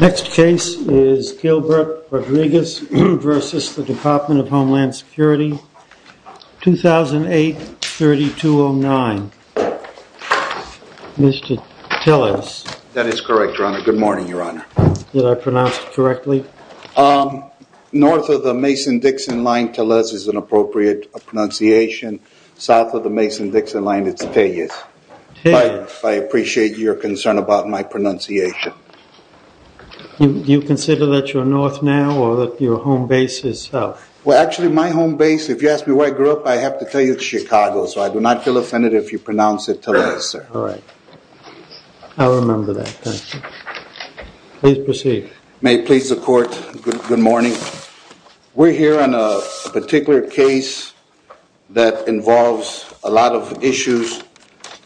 Next case is Gilbert Rodriguez v. Department of Homeland Security 2008-3209. Mr. Tellez. That is correct, your honor. Good morning, your honor. Did I pronounce it correctly? North of the Mason-Dixon line, Tellez is an appropriate pronunciation. South of the Mason-Dixon line, it's Tellez. I appreciate your concern about my pronunciation. Do you consider that you're north now or that your home base is south? Well, actually, my home base, if you ask me where I grew up, I have to tell you it's Chicago, so I do not feel offended if you pronounce it Tellez, sir. All right. I'll remember that. Thank you. Please proceed. May it please the court, good morning. We're here on a particular case that involves a lot of issues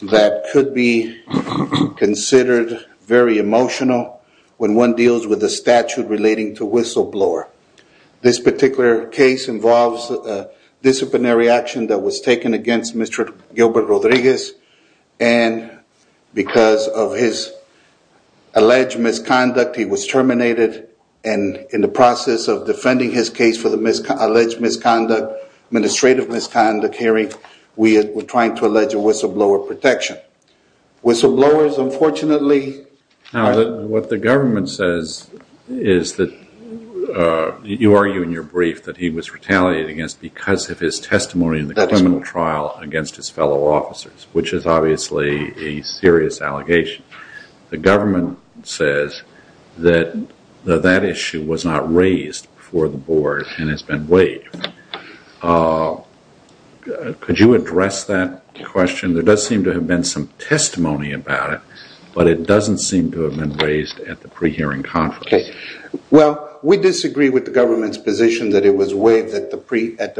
that could be considered very emotional when one deals with a statute relating to whistleblower. This particular case involves disciplinary action that was taken against Mr. Gilbert Rodriguez, and because of his alleged misconduct, he was terminated. And in the process of defending his case for the alleged misconduct, administrative misconduct hearing, we are trying to allege a whistleblower protection. Whistleblowers, unfortunately… Now, what the government says is that you argue in your brief that he was retaliated against because of his testimony in the criminal trial against his fellow officers, which is obviously a serious allegation. The government says that that issue was not raised before the board and has been waived. Could you address that question? There does seem to have been some testimony about it, but it doesn't seem to have been raised at the pre-hearing conference. Well, we disagree with the government's position that it was waived at the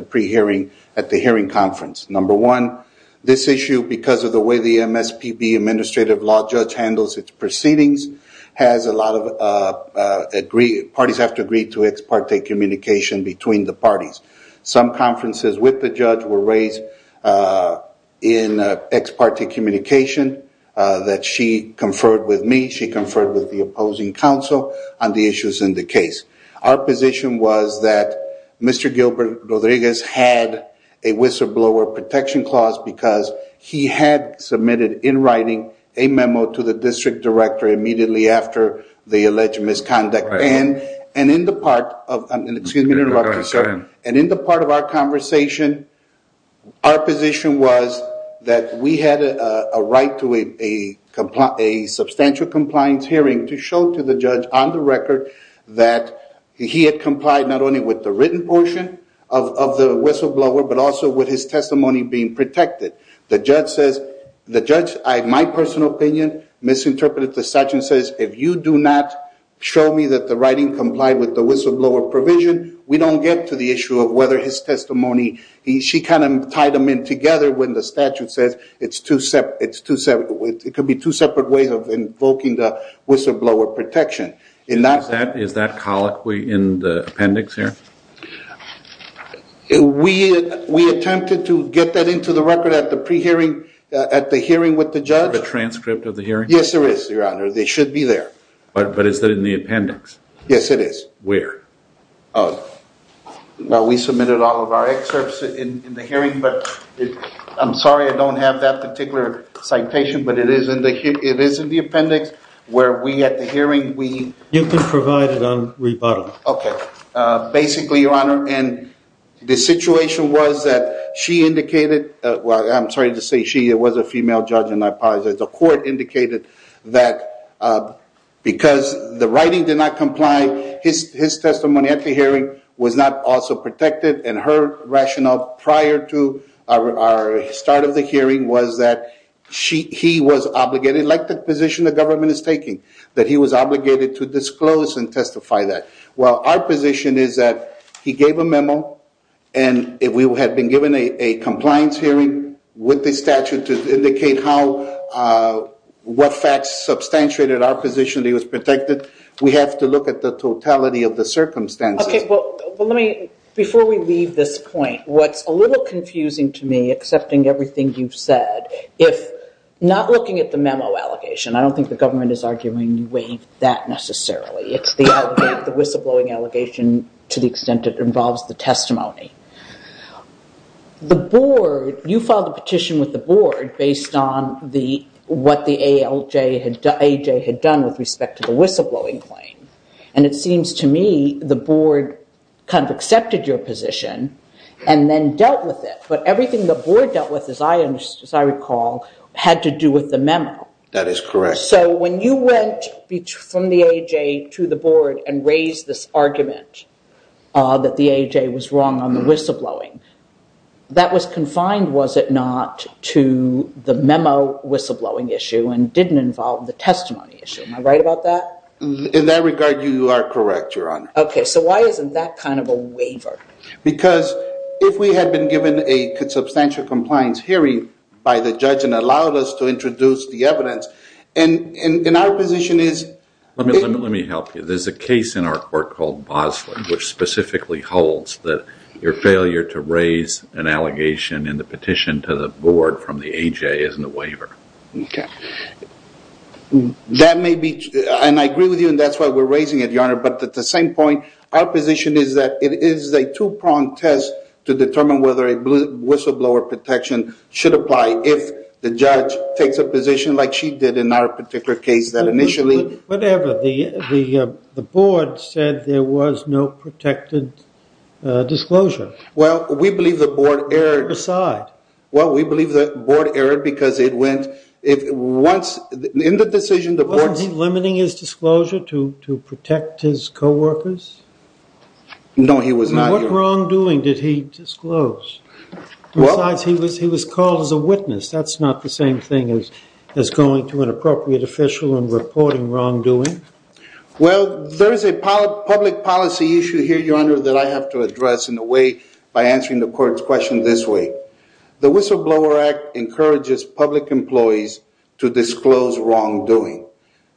pre-hearing, at the hearing conference. Number one, this issue, because of the way the MSPB administrative law judge handles its proceedings, has a lot of… Parties have to agree to ex parte communication between the parties. Some conferences with the judge were raised in ex parte communication that she conferred with me. She conferred with the opposing counsel on the issues in the case. Our position was that Mr. Gilbert Rodriguez had a whistleblower protection clause because he had submitted, in writing, a memo to the district director immediately after the alleged misconduct. In the part of our conversation, our position was that we had a right to a substantial compliance hearing to show to the judge on the record that he had complied not only with the written portion of the whistleblower, but also with his testimony being protected. The judge, in my personal opinion, misinterpreted the statute and says, if you do not show me that the writing complied with the whistleblower provision, we don't get to the issue of whether his testimony… She kind of tied them in together when the statute says it could be two separate ways of invoking the whistleblower protection. Is that colloquy in the appendix here? We attempted to get that into the record at the pre-hearing, at the hearing with the judge. Do you have a transcript of the hearing? Yes, there is, Your Honor. It should be there. But is that in the appendix? Yes, it is. Where? We submitted all of our excerpts in the hearing, but I'm sorry I don't have that particular citation, but it is in the appendix where we, at the hearing, we… You can provide it on rebuttal. Okay. Basically, Your Honor, the situation was that she indicated… I'm sorry to say she, it was a female judge, and I apologize. The court indicated that because the writing did not comply, his testimony at the hearing was not also protected. And her rationale prior to our start of the hearing was that he was obligated, like the position the government is taking, that he was obligated to disclose and testify that. Well, our position is that he gave a memo, and we had been given a compliance hearing with the statute to indicate how, what facts substantiated our position that he was protected. We have to look at the totality of the circumstances. Okay, well, let me, before we leave this point, what's a little confusing to me, accepting everything you've said, if not looking at the memo allegation, I don't think the government is arguing that necessarily. It's the whistleblowing allegation to the extent it involves the testimony. The board, you filed a petition with the board based on what the ALJ had done with respect to the whistleblowing claim. And it seems to me the board kind of accepted your position and then dealt with it. But everything the board dealt with, as I recall, had to do with the memo. That is correct. So when you went from the ALJ to the board and raised this argument that the ALJ was wrong on the whistleblowing, that was confined, was it not, to the memo whistleblowing issue and didn't involve the testimony issue. Am I right about that? In that regard, you are correct, Your Honor. Okay, so why isn't that kind of a waiver? Because if we had been given a substantial compliance hearing by the judge and allowed us to introduce the evidence, and our position is... Let me help you. There's a case in our court called Bosley, which specifically holds that your failure to raise an allegation in the petition to the board from the ALJ isn't a waiver. Okay. That may be... And I agree with you, and that's why we're raising it, Your Honor. But at the same point, our position is that it is a two-pronged test to determine whether a whistleblower protection should apply if the judge takes a position like she did in our particular case that initially... Whatever. The board said there was no protected disclosure. Well, we believe the board erred. Put it aside. Well, we believe the board erred because it went... In the decision, the board... Wasn't he limiting his disclosure to protect his co-workers? No, he was not. What wrongdoing did he disclose? Besides, he was called as a witness. That's not the same thing as going to an appropriate official and reporting wrongdoing. Well, there is a public policy issue here, Your Honor, that I have to address in a way by answering the court's question this way. The Whistleblower Act encourages public employees to disclose wrongdoing.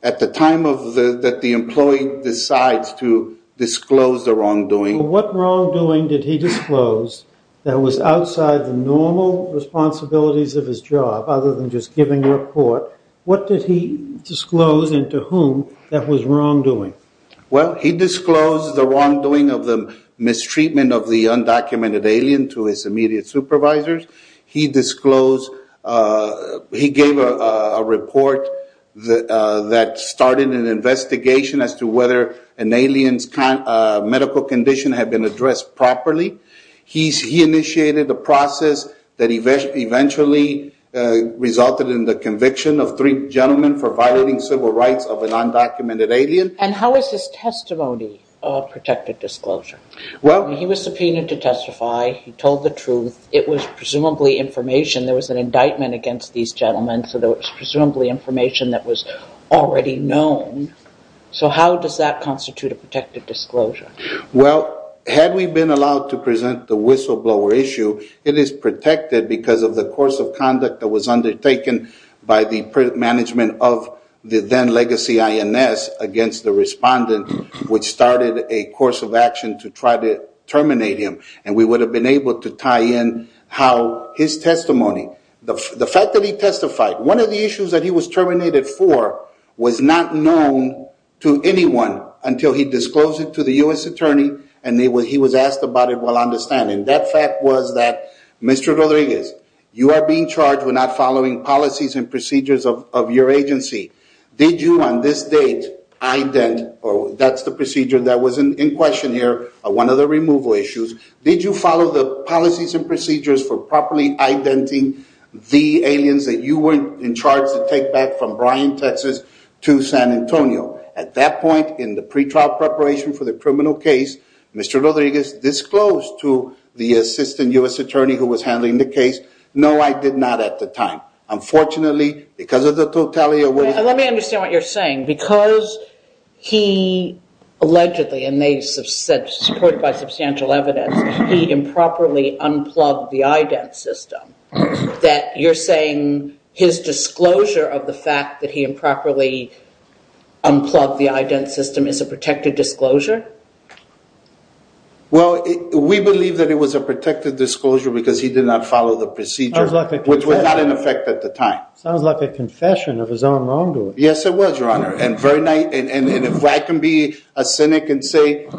At the time that the employee decides to disclose the wrongdoing... What wrongdoing did he disclose that was outside the normal responsibilities of his job other than just giving a report? What did he disclose and to whom that was wrongdoing? Well, he disclosed the wrongdoing of the mistreatment of the undocumented alien to his immediate supervisors. He disclosed... He gave a report that started an investigation as to whether an alien's medical condition had been addressed properly. He initiated a process that eventually resulted in the conviction of three gentlemen for violating civil rights of an undocumented alien. And how is his testimony a protected disclosure? He was subpoenaed to testify. He told the truth. It was presumably information. There was an indictment against these gentlemen, so there was presumably information that was already known. So how does that constitute a protected disclosure? Well, had we been allowed to present the whistleblower issue, it is protected because of the course of conduct that was undertaken by the management of the then-legacy INS against the respondent, which started a course of action to try to terminate him. And we would have been able to tie in how his testimony... The fact that he testified... was not known to anyone until he disclosed it to the U.S. Attorney, and he was asked about it while on the stand. And that fact was that, Mr. Rodriguez, you are being charged with not following policies and procedures of your agency. Did you, on this date, ident... That's the procedure that was in question here, one of the removal issues. Did you follow the policies and procedures for properly identing the aliens that you were in charge to take back from Bryan, Texas, to San Antonio? At that point, in the pretrial preparation for the criminal case, Mr. Rodriguez disclosed to the assistant U.S. Attorney who was handling the case, no, I did not at the time. Unfortunately, because of the totality of what... Let me understand what you're saying. Because he allegedly, and they support by substantial evidence, he improperly unplugged the ident system, that you're saying his disclosure of the fact that he improperly unplugged the ident system is a protected disclosure? Well, we believe that it was a protected disclosure because he did not follow the procedure, which was not in effect at the time. Sounds like a confession of his own wrongdoing. Yes, it was, Your Honor, and if I can be a cynic and say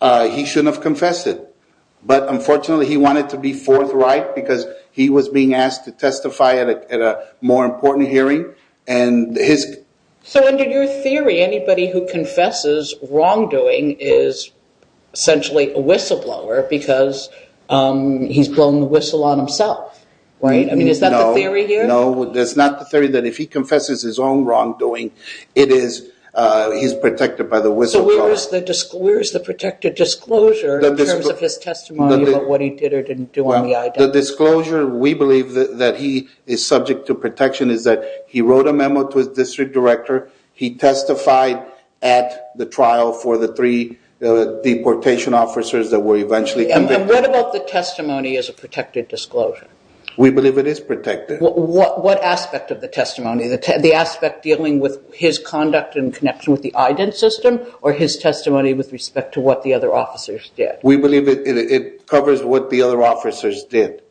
he shouldn't have confessed it, but unfortunately, he wanted to be forthright because he was being asked to testify at a more important hearing, and his... So, under your theory, anybody who confesses wrongdoing is essentially a whistleblower because he's blown the whistle on himself, right? I mean, is that the theory here? No, that's not the theory, that if he confesses his own wrongdoing, he's protected by the whistleblower. So, where is the protected disclosure in terms of his testimony about what he did or didn't do on the ident system? The disclosure, we believe, that he is subject to protection is that he wrote a memo to his district director, he testified at the trial for the three deportation officers that were eventually convicted. And what about the testimony as a protected disclosure? We believe it is protected. What aspect of the testimony, the aspect dealing with his conduct in connection with the ident system or his testimony with respect to what the other officers did? We believe it covers what the other officers did,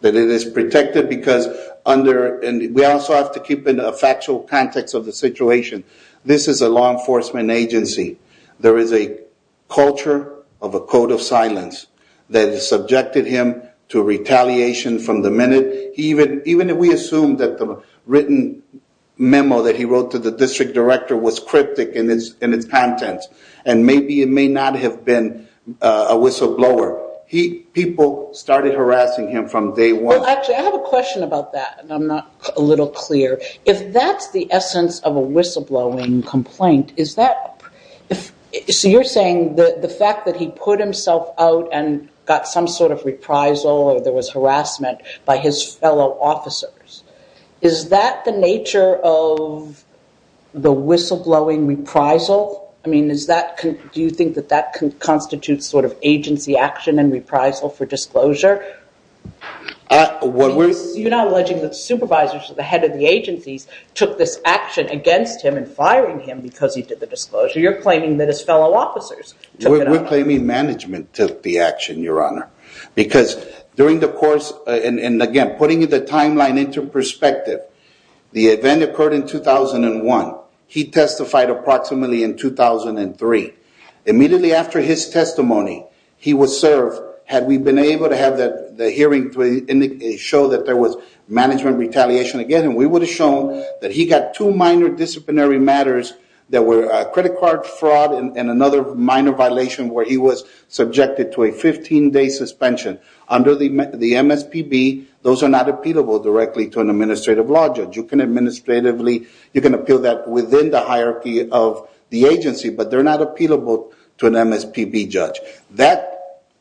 that it is protected because under... And we also have to keep in a factual context of the situation. This is a law enforcement agency. There is a culture of a code of silence that subjected him to retaliation from the minute... Even if we assume that the written memo that he wrote to the district director was cryptic in its content and maybe it may not have been a whistleblower, people started harassing him from day one. Well, actually, I have a question about that and I'm not a little clear. If that's the essence of a whistleblowing complaint, is that... So you're saying the fact that he put himself out and got some sort of reprisal or there was harassment by his fellow officers, is that the nature of the whistleblowing reprisal? I mean, do you think that that constitutes sort of agency action and reprisal for disclosure? What we're... You're not alleging that supervisors or the head of the agencies took this action against him and firing him because he did the disclosure. You're claiming that his fellow officers took it on. We're claiming management took the action, Your Honor, because during the course... And again, putting the timeline into perspective, the event occurred in 2001. He testified approximately in 2003. Immediately after his testimony, he was served. Had we been able to have the hearing show that there was management retaliation again, we would have shown that he got two minor disciplinary matters that were credit card fraud and another minor violation where he was subjected to a 15-day suspension. Under the MSPB, those are not appealable directly to an administrative law judge. You can appeal that within the hierarchy of the agency, but they're not appealable to an MSPB judge.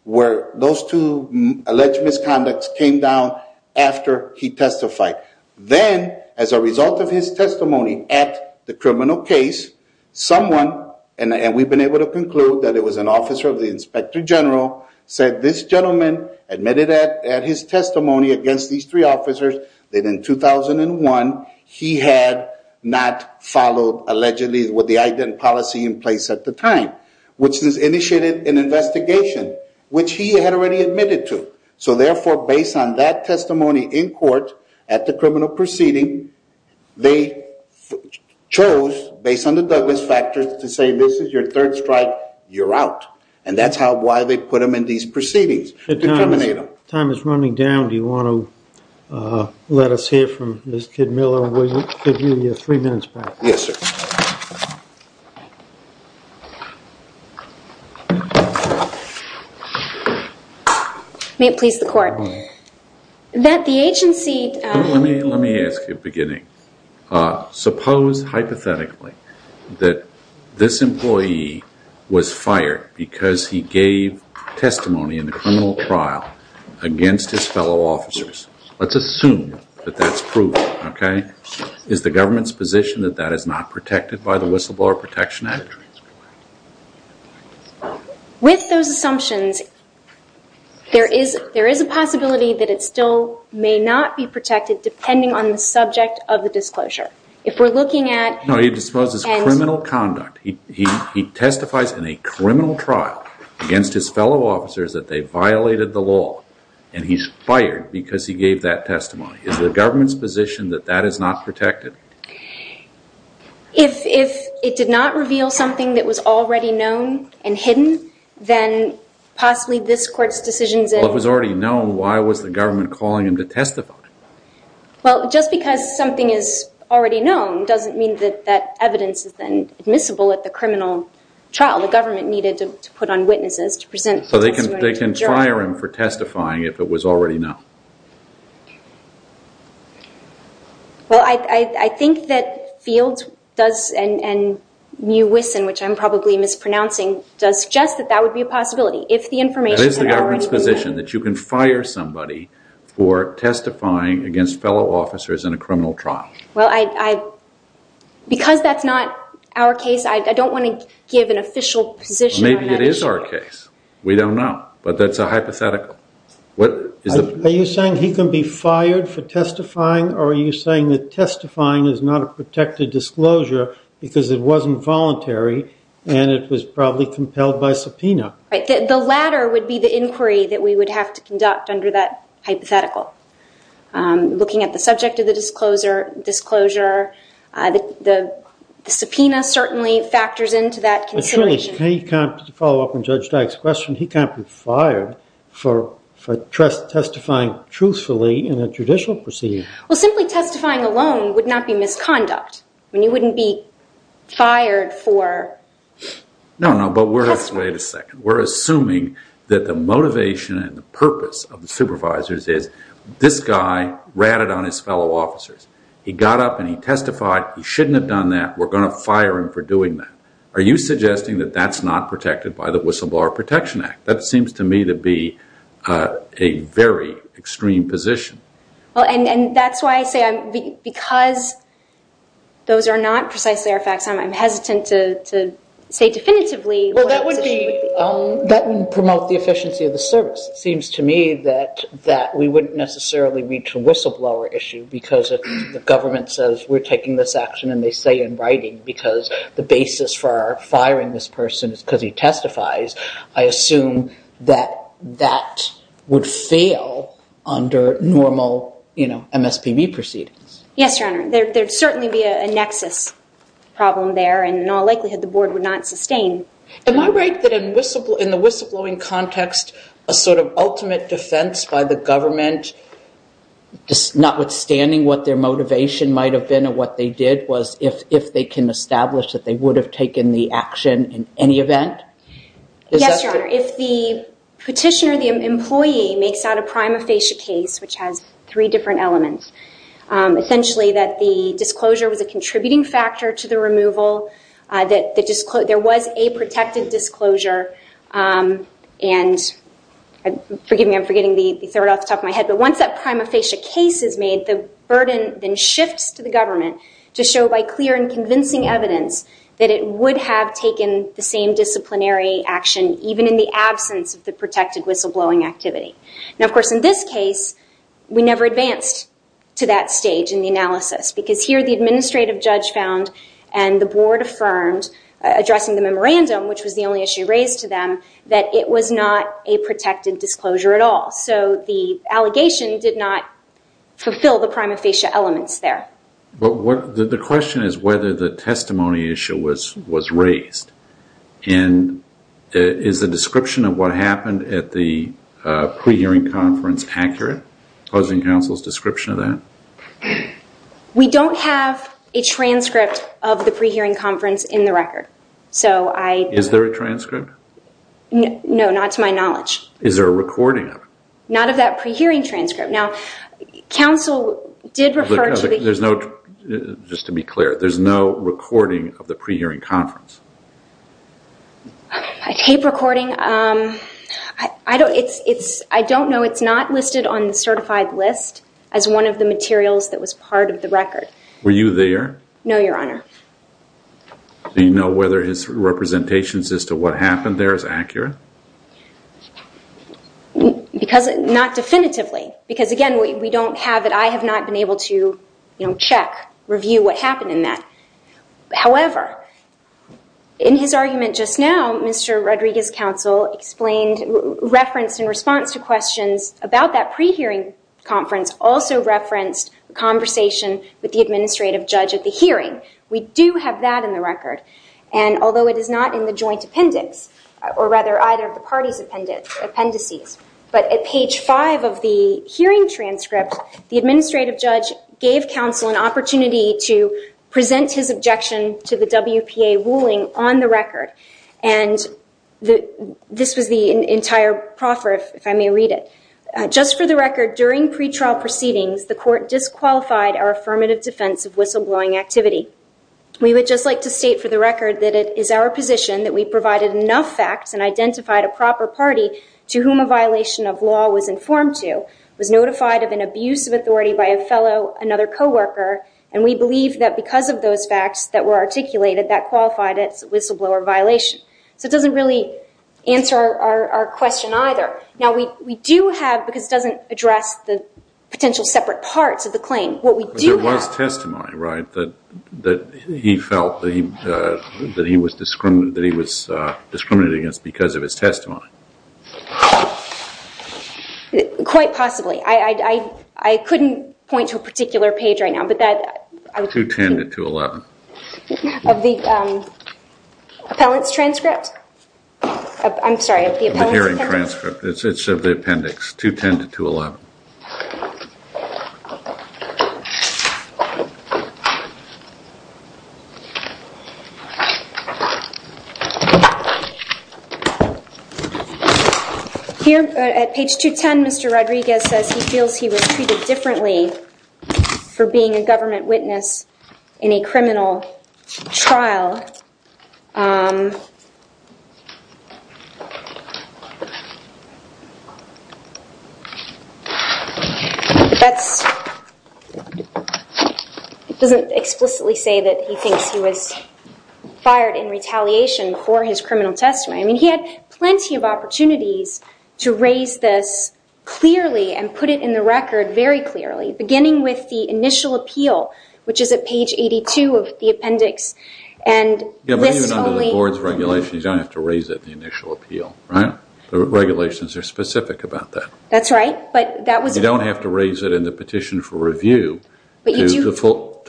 Those two alleged misconducts came down after he testified. Then, as a result of his testimony at the criminal case, someone... And we've been able to conclude that it was an officer of the inspector general said this gentleman admitted at his testimony against these three officers that in 2001 he had not followed allegedly what the identity policy in place at the time, which has initiated an investigation, which he had already admitted to. So, therefore, based on that testimony in court at the criminal proceeding, they chose, based on the Douglas factors, to say, this is your third strike, you're out. And that's why they put him in these proceedings. Time is running down. Do you want to let us hear from Ms. Kidmiller? We'll give you your three minutes back. Yes, sir. May it please the court. That the agency... Let me ask you, beginning. Suppose, hypothetically, that this employee was fired because he gave testimony in the criminal trial against his fellow officers. Let's assume that that's proof, okay? Is the government's position that that is not protected by the Whistleblower Protection Act? With those assumptions, there is a possibility that it still may not be protected depending on the subject of the disclosure. If we're looking at... No, he disposes of criminal conduct. He testifies in a criminal trial against his fellow officers that they violated the law and he's fired because he gave that testimony. Is the government's position that that is not protected? If it did not reveal something that was already known and hidden, then possibly this court's decision... Well, if it was already known, why was the government calling him to testify? Well, just because something is already known doesn't mean that that evidence is then admissible at the criminal trial. The government needed to put on witnesses to present... So they can fire him for testifying if it was already known. Well, I think that Fields does... and Mewison, which I'm probably mispronouncing, does suggest that that would be a possibility. If the information... It is the government's position that you can fire somebody for testifying against fellow officers in a criminal trial. Because that's not our case, I don't want to give an official position on that issue. Maybe it is our case. We don't know. But that's a hypothetical. Are you saying he can be fired for testifying or are you saying that testifying is not a protected disclosure because it wasn't voluntary and it was probably compelled by subpoena? that we would have to conduct under that hypothetical. Looking at the subject of the disclosure, the subpoena certainly factors into that consideration. But surely, to follow up on Judge Dyck's question, he can't be fired for testifying truthfully in a judicial procedure. Well, simply testifying alone would not be misconduct. I mean, you wouldn't be fired for... No, no, but we're... Wait a second. We're assuming that the motivation and the purpose of the supervisors is this guy ratted on his fellow officers. He got up and he testified. He shouldn't have done that. We're going to fire him for doing that. Are you suggesting that that's not protected by the Whistleblower Protection Act? That seems to me to be a very extreme position. And that's why I say because those are not precisely our facts, I'm hesitant to say definitively what our position would be. Well, that would promote the efficiency of the service. It seems to me that we wouldn't necessarily reach a whistleblower issue because if the government says, we're taking this action and they say in writing because the basis for our firing this person is because he testifies, I assume that that would fail under normal MSPB proceedings. Yes, Your Honor. There would certainly be a nexus problem there, and in all likelihood the Board would not sustain. Am I right that in the whistleblowing context, a sort of ultimate defense by the government, notwithstanding what their motivation might have been and what they did, was if they can establish that they would have taken the action in any event? Yes, Your Honor. If the petitioner, the employee, makes out a prima facie case, which has three different elements, essentially that the disclosure was a contributing factor to the removal, that there was a protected disclosure, and forgive me, I'm forgetting the third off the top of my head, but once that prima facie case is made, the burden then shifts to the government to show by clear and convincing evidence that it would have taken the same disciplinary action even in the absence of the protected whistleblowing activity. Now, of course, in this case, we never advanced to that stage in the analysis because here the administrative judge found, and the Board affirmed, addressing the memorandum, which was the only issue raised to them, that it was not a protected disclosure at all. So the allegation did not fulfill the prima facie elements there. But the question is whether the testimony issue was raised, and is the description of what happened at the pre-hearing conference accurate, posing counsel's description of that? We don't have a transcript of the pre-hearing conference in the record. Is there a transcript? No, not to my knowledge. Is there a recording of it? Not of that pre-hearing transcript. Now, counsel did refer to the... Just to be clear, there's no recording of the pre-hearing conference? I tape recording. I don't know. It's not listed on the certified list as one of the materials that was part of the record. Were you there? No, Your Honor. Do you know whether his representations as to what happened there is accurate? Not definitively, because, again, we don't have it. I have not been able to check, review what happened in that. However, in his argument just now, Mr. Rodriguez's counsel referenced in response to questions about that pre-hearing conference also referenced a conversation with the administrative judge at the hearing. We do have that in the record. And although it is not in the joint appendix, or rather either of the parties' appendices, but at page 5 of the hearing transcript, the administrative judge gave counsel an opportunity to present his objection to the WPA ruling on the record. And this was the entire proffer, if I may read it. Just for the record, during pretrial proceedings, the court disqualified our affirmative defense of whistleblowing activity. We would just like to state for the record that it is our position that we provided enough facts and identified a proper party to whom a violation of law was informed to, was notified of an abuse of authority by a fellow, another co-worker, and we believe that because of those facts that were articulated, that qualified it as a whistleblower violation. So it doesn't really answer our question either. Now, we do have, because it doesn't address the potential separate parts of the claim, what we do have- There was testimony, right, that he felt that he was discriminated against because of his testimony. Quite possibly. I couldn't point to a particular page right now, but that- 210 to 211. Of the appellant's transcript? I'm sorry, of the appellant's transcript? The hearing transcript. It's of the appendix, 210 to 211. Here at page 210, Mr. Rodriguez says he feels he was treated differently for being a government witness in a criminal trial. That doesn't explicitly say that he thinks he was fired in retaliation for his criminal testimony. I mean, he had plenty of opportunities to raise this clearly and put it in the record very clearly, beginning with the initial appeal, which is at page 82 of the appendix. Yeah, but even under the board's regulation, you don't have to raise it in the initial appeal, right? The regulations are specific about that. That's right, but that was- You don't have to raise it in the petition for review to the full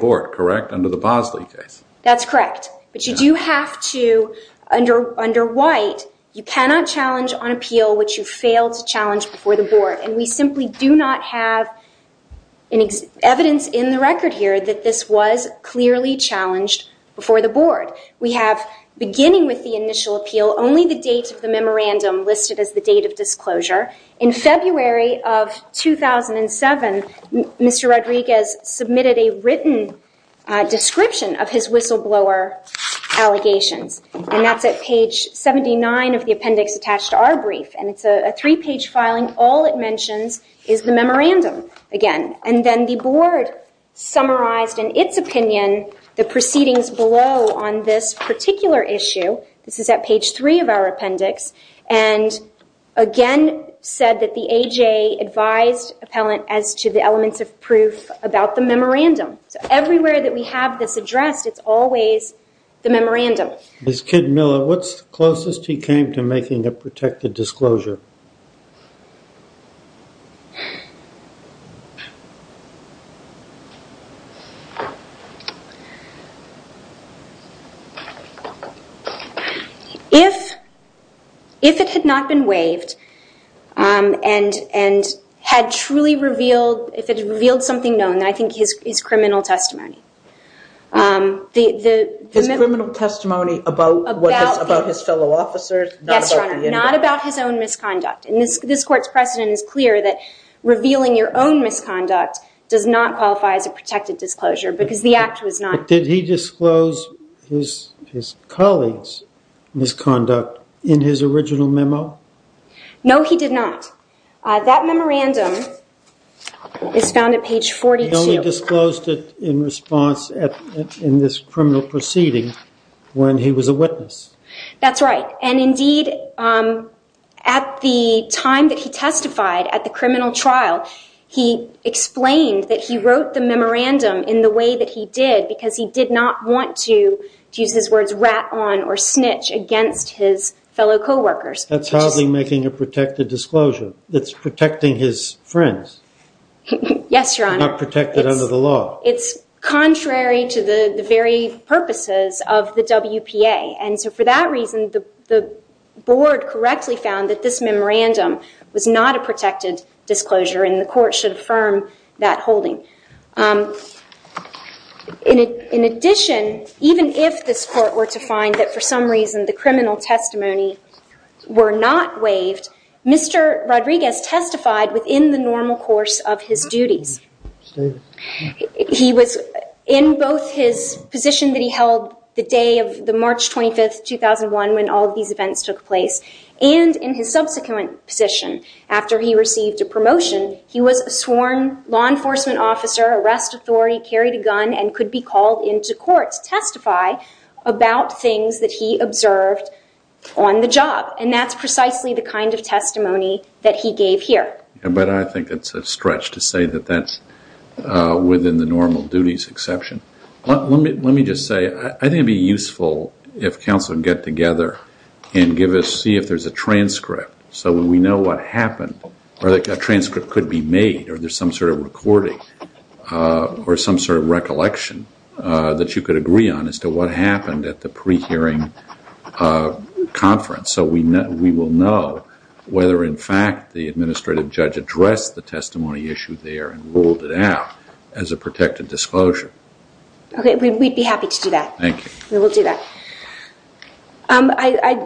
board, correct, under the Bosley case. That's correct, but you do have to- Under White, you cannot challenge on appeal what you failed to challenge before the board, and we simply do not have evidence in the record here that this was clearly challenged before the board. We have, beginning with the initial appeal, only the date of the memorandum listed as the date of disclosure. In February of 2007, Mr. Rodriguez submitted a written description of his whistleblower allegations, and that's at page 79 of the appendix attached to our brief, and it's a three-page filing. All it mentions is the memorandum again, and then the board summarized in its opinion the proceedings below on this particular issue. This is at page three of our appendix, and again said that the AJ advised appellant as to the elements of proof about the memorandum. So everywhere that we have this addressed, it's always the memorandum. Ms. Kid Miller, what's the closest he came to making a protected disclosure? If it had not been waived and had truly revealed, if it had revealed something known, I think his criminal testimony. His criminal testimony about his fellow officers? Yes, Your Honor, not about his own misconduct. And this court's precedent is clear that revealing your own misconduct does not qualify as a protected disclosure because the act was not. Did he disclose his colleagues' misconduct in his original memo? No, he did not. That memorandum is found at page 42. He only disclosed it in response in this criminal proceeding when he was a witness. That's right. And indeed, at the time that he testified at the criminal trial, he explained that he wrote the memorandum in the way that he did because he did not want to, to use his words, rat on or snitch against his fellow co-workers. That's hardly making a protected disclosure. It's protecting his friends. Yes, Your Honor. It's not protected under the law. It's contrary to the very purposes of the WPA. And so for that reason, the board correctly found that this memorandum was not a protected disclosure and the court should affirm that holding. In addition, even if this court were to find that for some reason the criminal testimony were not waived, Mr. Rodriguez testified within the normal course of his duties. He was in both his position that he held the day of the March 25, 2001, when all of these events took place, and in his subsequent position after he received a promotion, he was a sworn law enforcement officer, arrest authority, carried a gun, and could be called into court to testify about things that he observed on the job. And that's precisely the kind of testimony that he gave here. But I think it's a stretch to say that that's within the normal duties exception. Let me just say, I think it would be useful if counsel could get together and see if there's a transcript so we know what happened. A transcript could be made or there's some sort of recording or some sort of recollection that you could agree on as to what happened at the pre-hearing conference so we will know whether, in fact, the administrative judge addressed the testimony issue there and ruled it out as a protected disclosure. Okay, we'd be happy to do that. Thank you. We will do that. I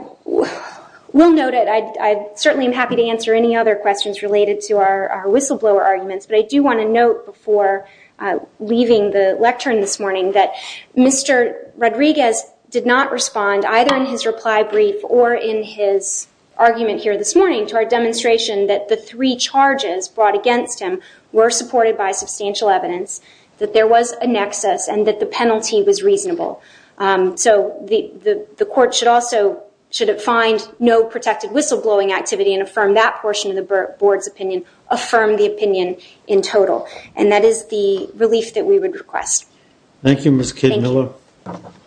will note that I certainly am happy to answer any other questions related to our whistleblower arguments, but I do want to note before leaving the lectern this morning that Mr. Rodriguez did not respond, either in his reply brief or in his argument here this morning, to our demonstration that the three charges brought against him were supported by substantial evidence, that there was a nexus, and that the penalty was reasonable. So the court should also find no protected whistleblowing activity and affirm that portion of the board's opinion, affirm the opinion in total, and that is the relief that we would request. Thank you, Ms. Kidmiller.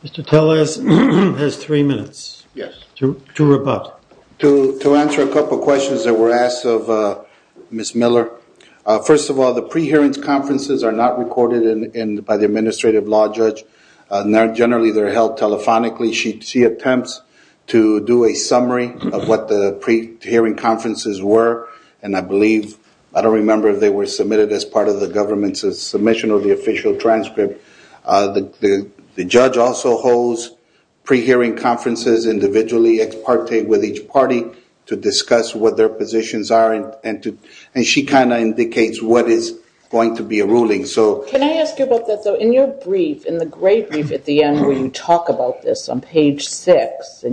Mr. Tellez has three minutes to rebut. To answer a couple of questions that were asked of Ms. Miller, first of all, the pre-hearings conferences are not recorded by the administrative law judge. Generally, they're held telephonically. She attempts to do a summary of what the pre-hearing conferences were, and I believe, I don't remember if they were submitted as part of the government's submission or the official transcript. The judge also holds pre-hearing conferences individually, and they partake with each party to discuss what their positions are, and she kind of indicates what is going to be a ruling. Can I ask you about that, though? In your brief, in the great brief at the end where you talk about this on page 6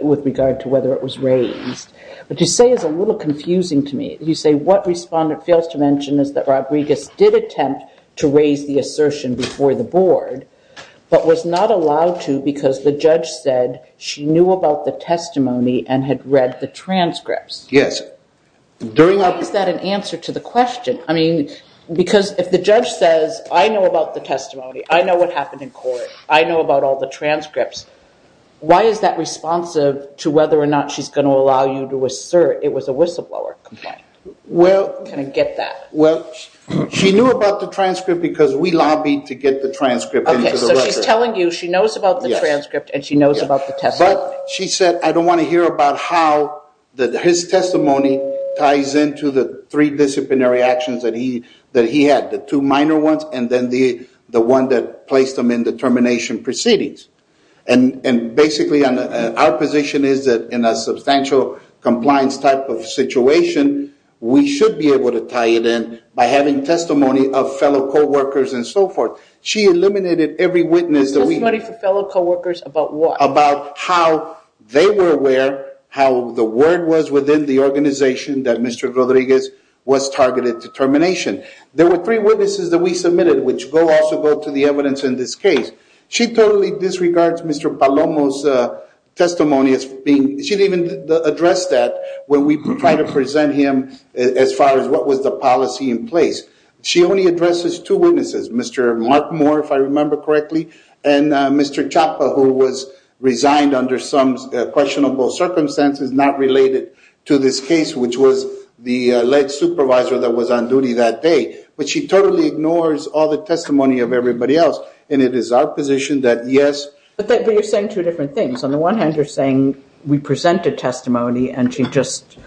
with regard to whether it was raised, what you say is a little confusing to me. You say, what Respondent fails to mention is that Rodriguez did attempt to raise the assertion before the board, but was not allowed to because the judge said she knew about the testimony and had read the transcripts. Yes. Why is that an answer to the question? I mean, because if the judge says, I know about the testimony, I know what happened in court, I know about all the transcripts, why is that responsive to whether or not she's going to allow you to assert it was a whistleblower complaint? Can I get that? Well, she knew about the transcript because we lobbied to get the transcript into the record. Okay, so she's telling you she knows about the transcript and she knows about the testimony. But she said, I don't want to hear about how his testimony ties into the three disciplinary actions that he had, the two minor ones and then the one that placed him in the termination proceedings. And basically our position is that in a substantial compliance type of situation, we should be able to tie it in by having testimony of fellow co-workers and so forth. She eliminated every witness. Testimony for fellow co-workers about what? About how they were aware, how the word was within the organization that Mr. Rodriguez was targeted to termination. There were three witnesses that we submitted, which also go to the evidence in this case. She totally disregards Mr. Palomo's testimony. She didn't even address that when we tried to present him as far as what was the policy in place. She only addresses two witnesses, Mr. Mark Moore, if I remember correctly, and Mr. Chapa, who was resigned under some questionable circumstances not related to this case, which was the lead supervisor that was on duty that day. But she totally ignores all the testimony of everybody else, and it is our position that yes. But you're saying two different things. On the one hand, you're saying we presented testimony and she just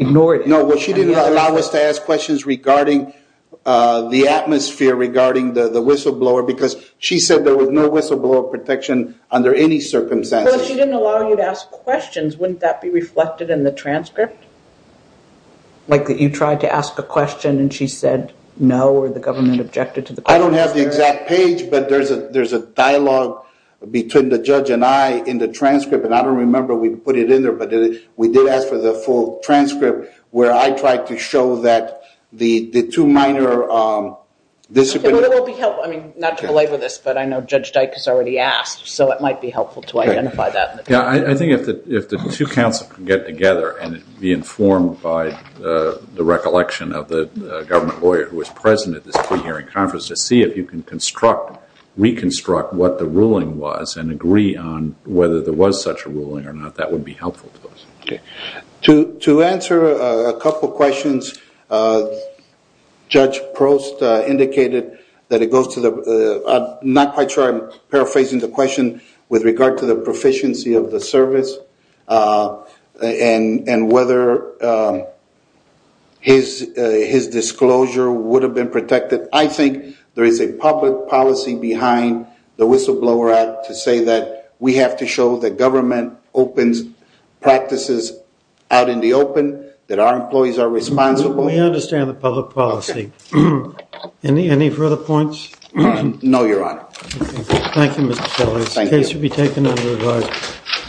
ignored it. No, well, she didn't allow us to ask questions regarding the atmosphere, regarding the whistleblower, because she said there was no whistleblower protection under any circumstances. Well, she didn't allow you to ask questions. Wouldn't that be reflected in the transcript? Like that you tried to ask a question and she said no, or the government objected to the question? I don't have the exact page, but there's a dialogue between the judge and I in the transcript, and I don't remember if we put it in there, but we did ask for the full transcript, where I tried to show that the two minor disciplinary— It will be helpful. I mean, not to belabor this, but I know Judge Dyke has already asked, so it might be helpful to identify that. Yeah, I think if the two counsels can get together and be informed by the recollection of the government lawyer who was present at this pre-hearing conference to see if you can reconstruct what the ruling was and agree on whether there was such a ruling or not, that would be helpful to us. Okay. To answer a couple questions, Judge Prost indicated that it goes to the— and whether his disclosure would have been protected. I think there is a public policy behind the Whistleblower Act to say that we have to show that government opens practices out in the open, that our employees are responsible. We understand the public policy. Okay. Any further points? No, Your Honor. Okay. Thank you, Mr. Sellers. Thank you. The case should be taken under advise.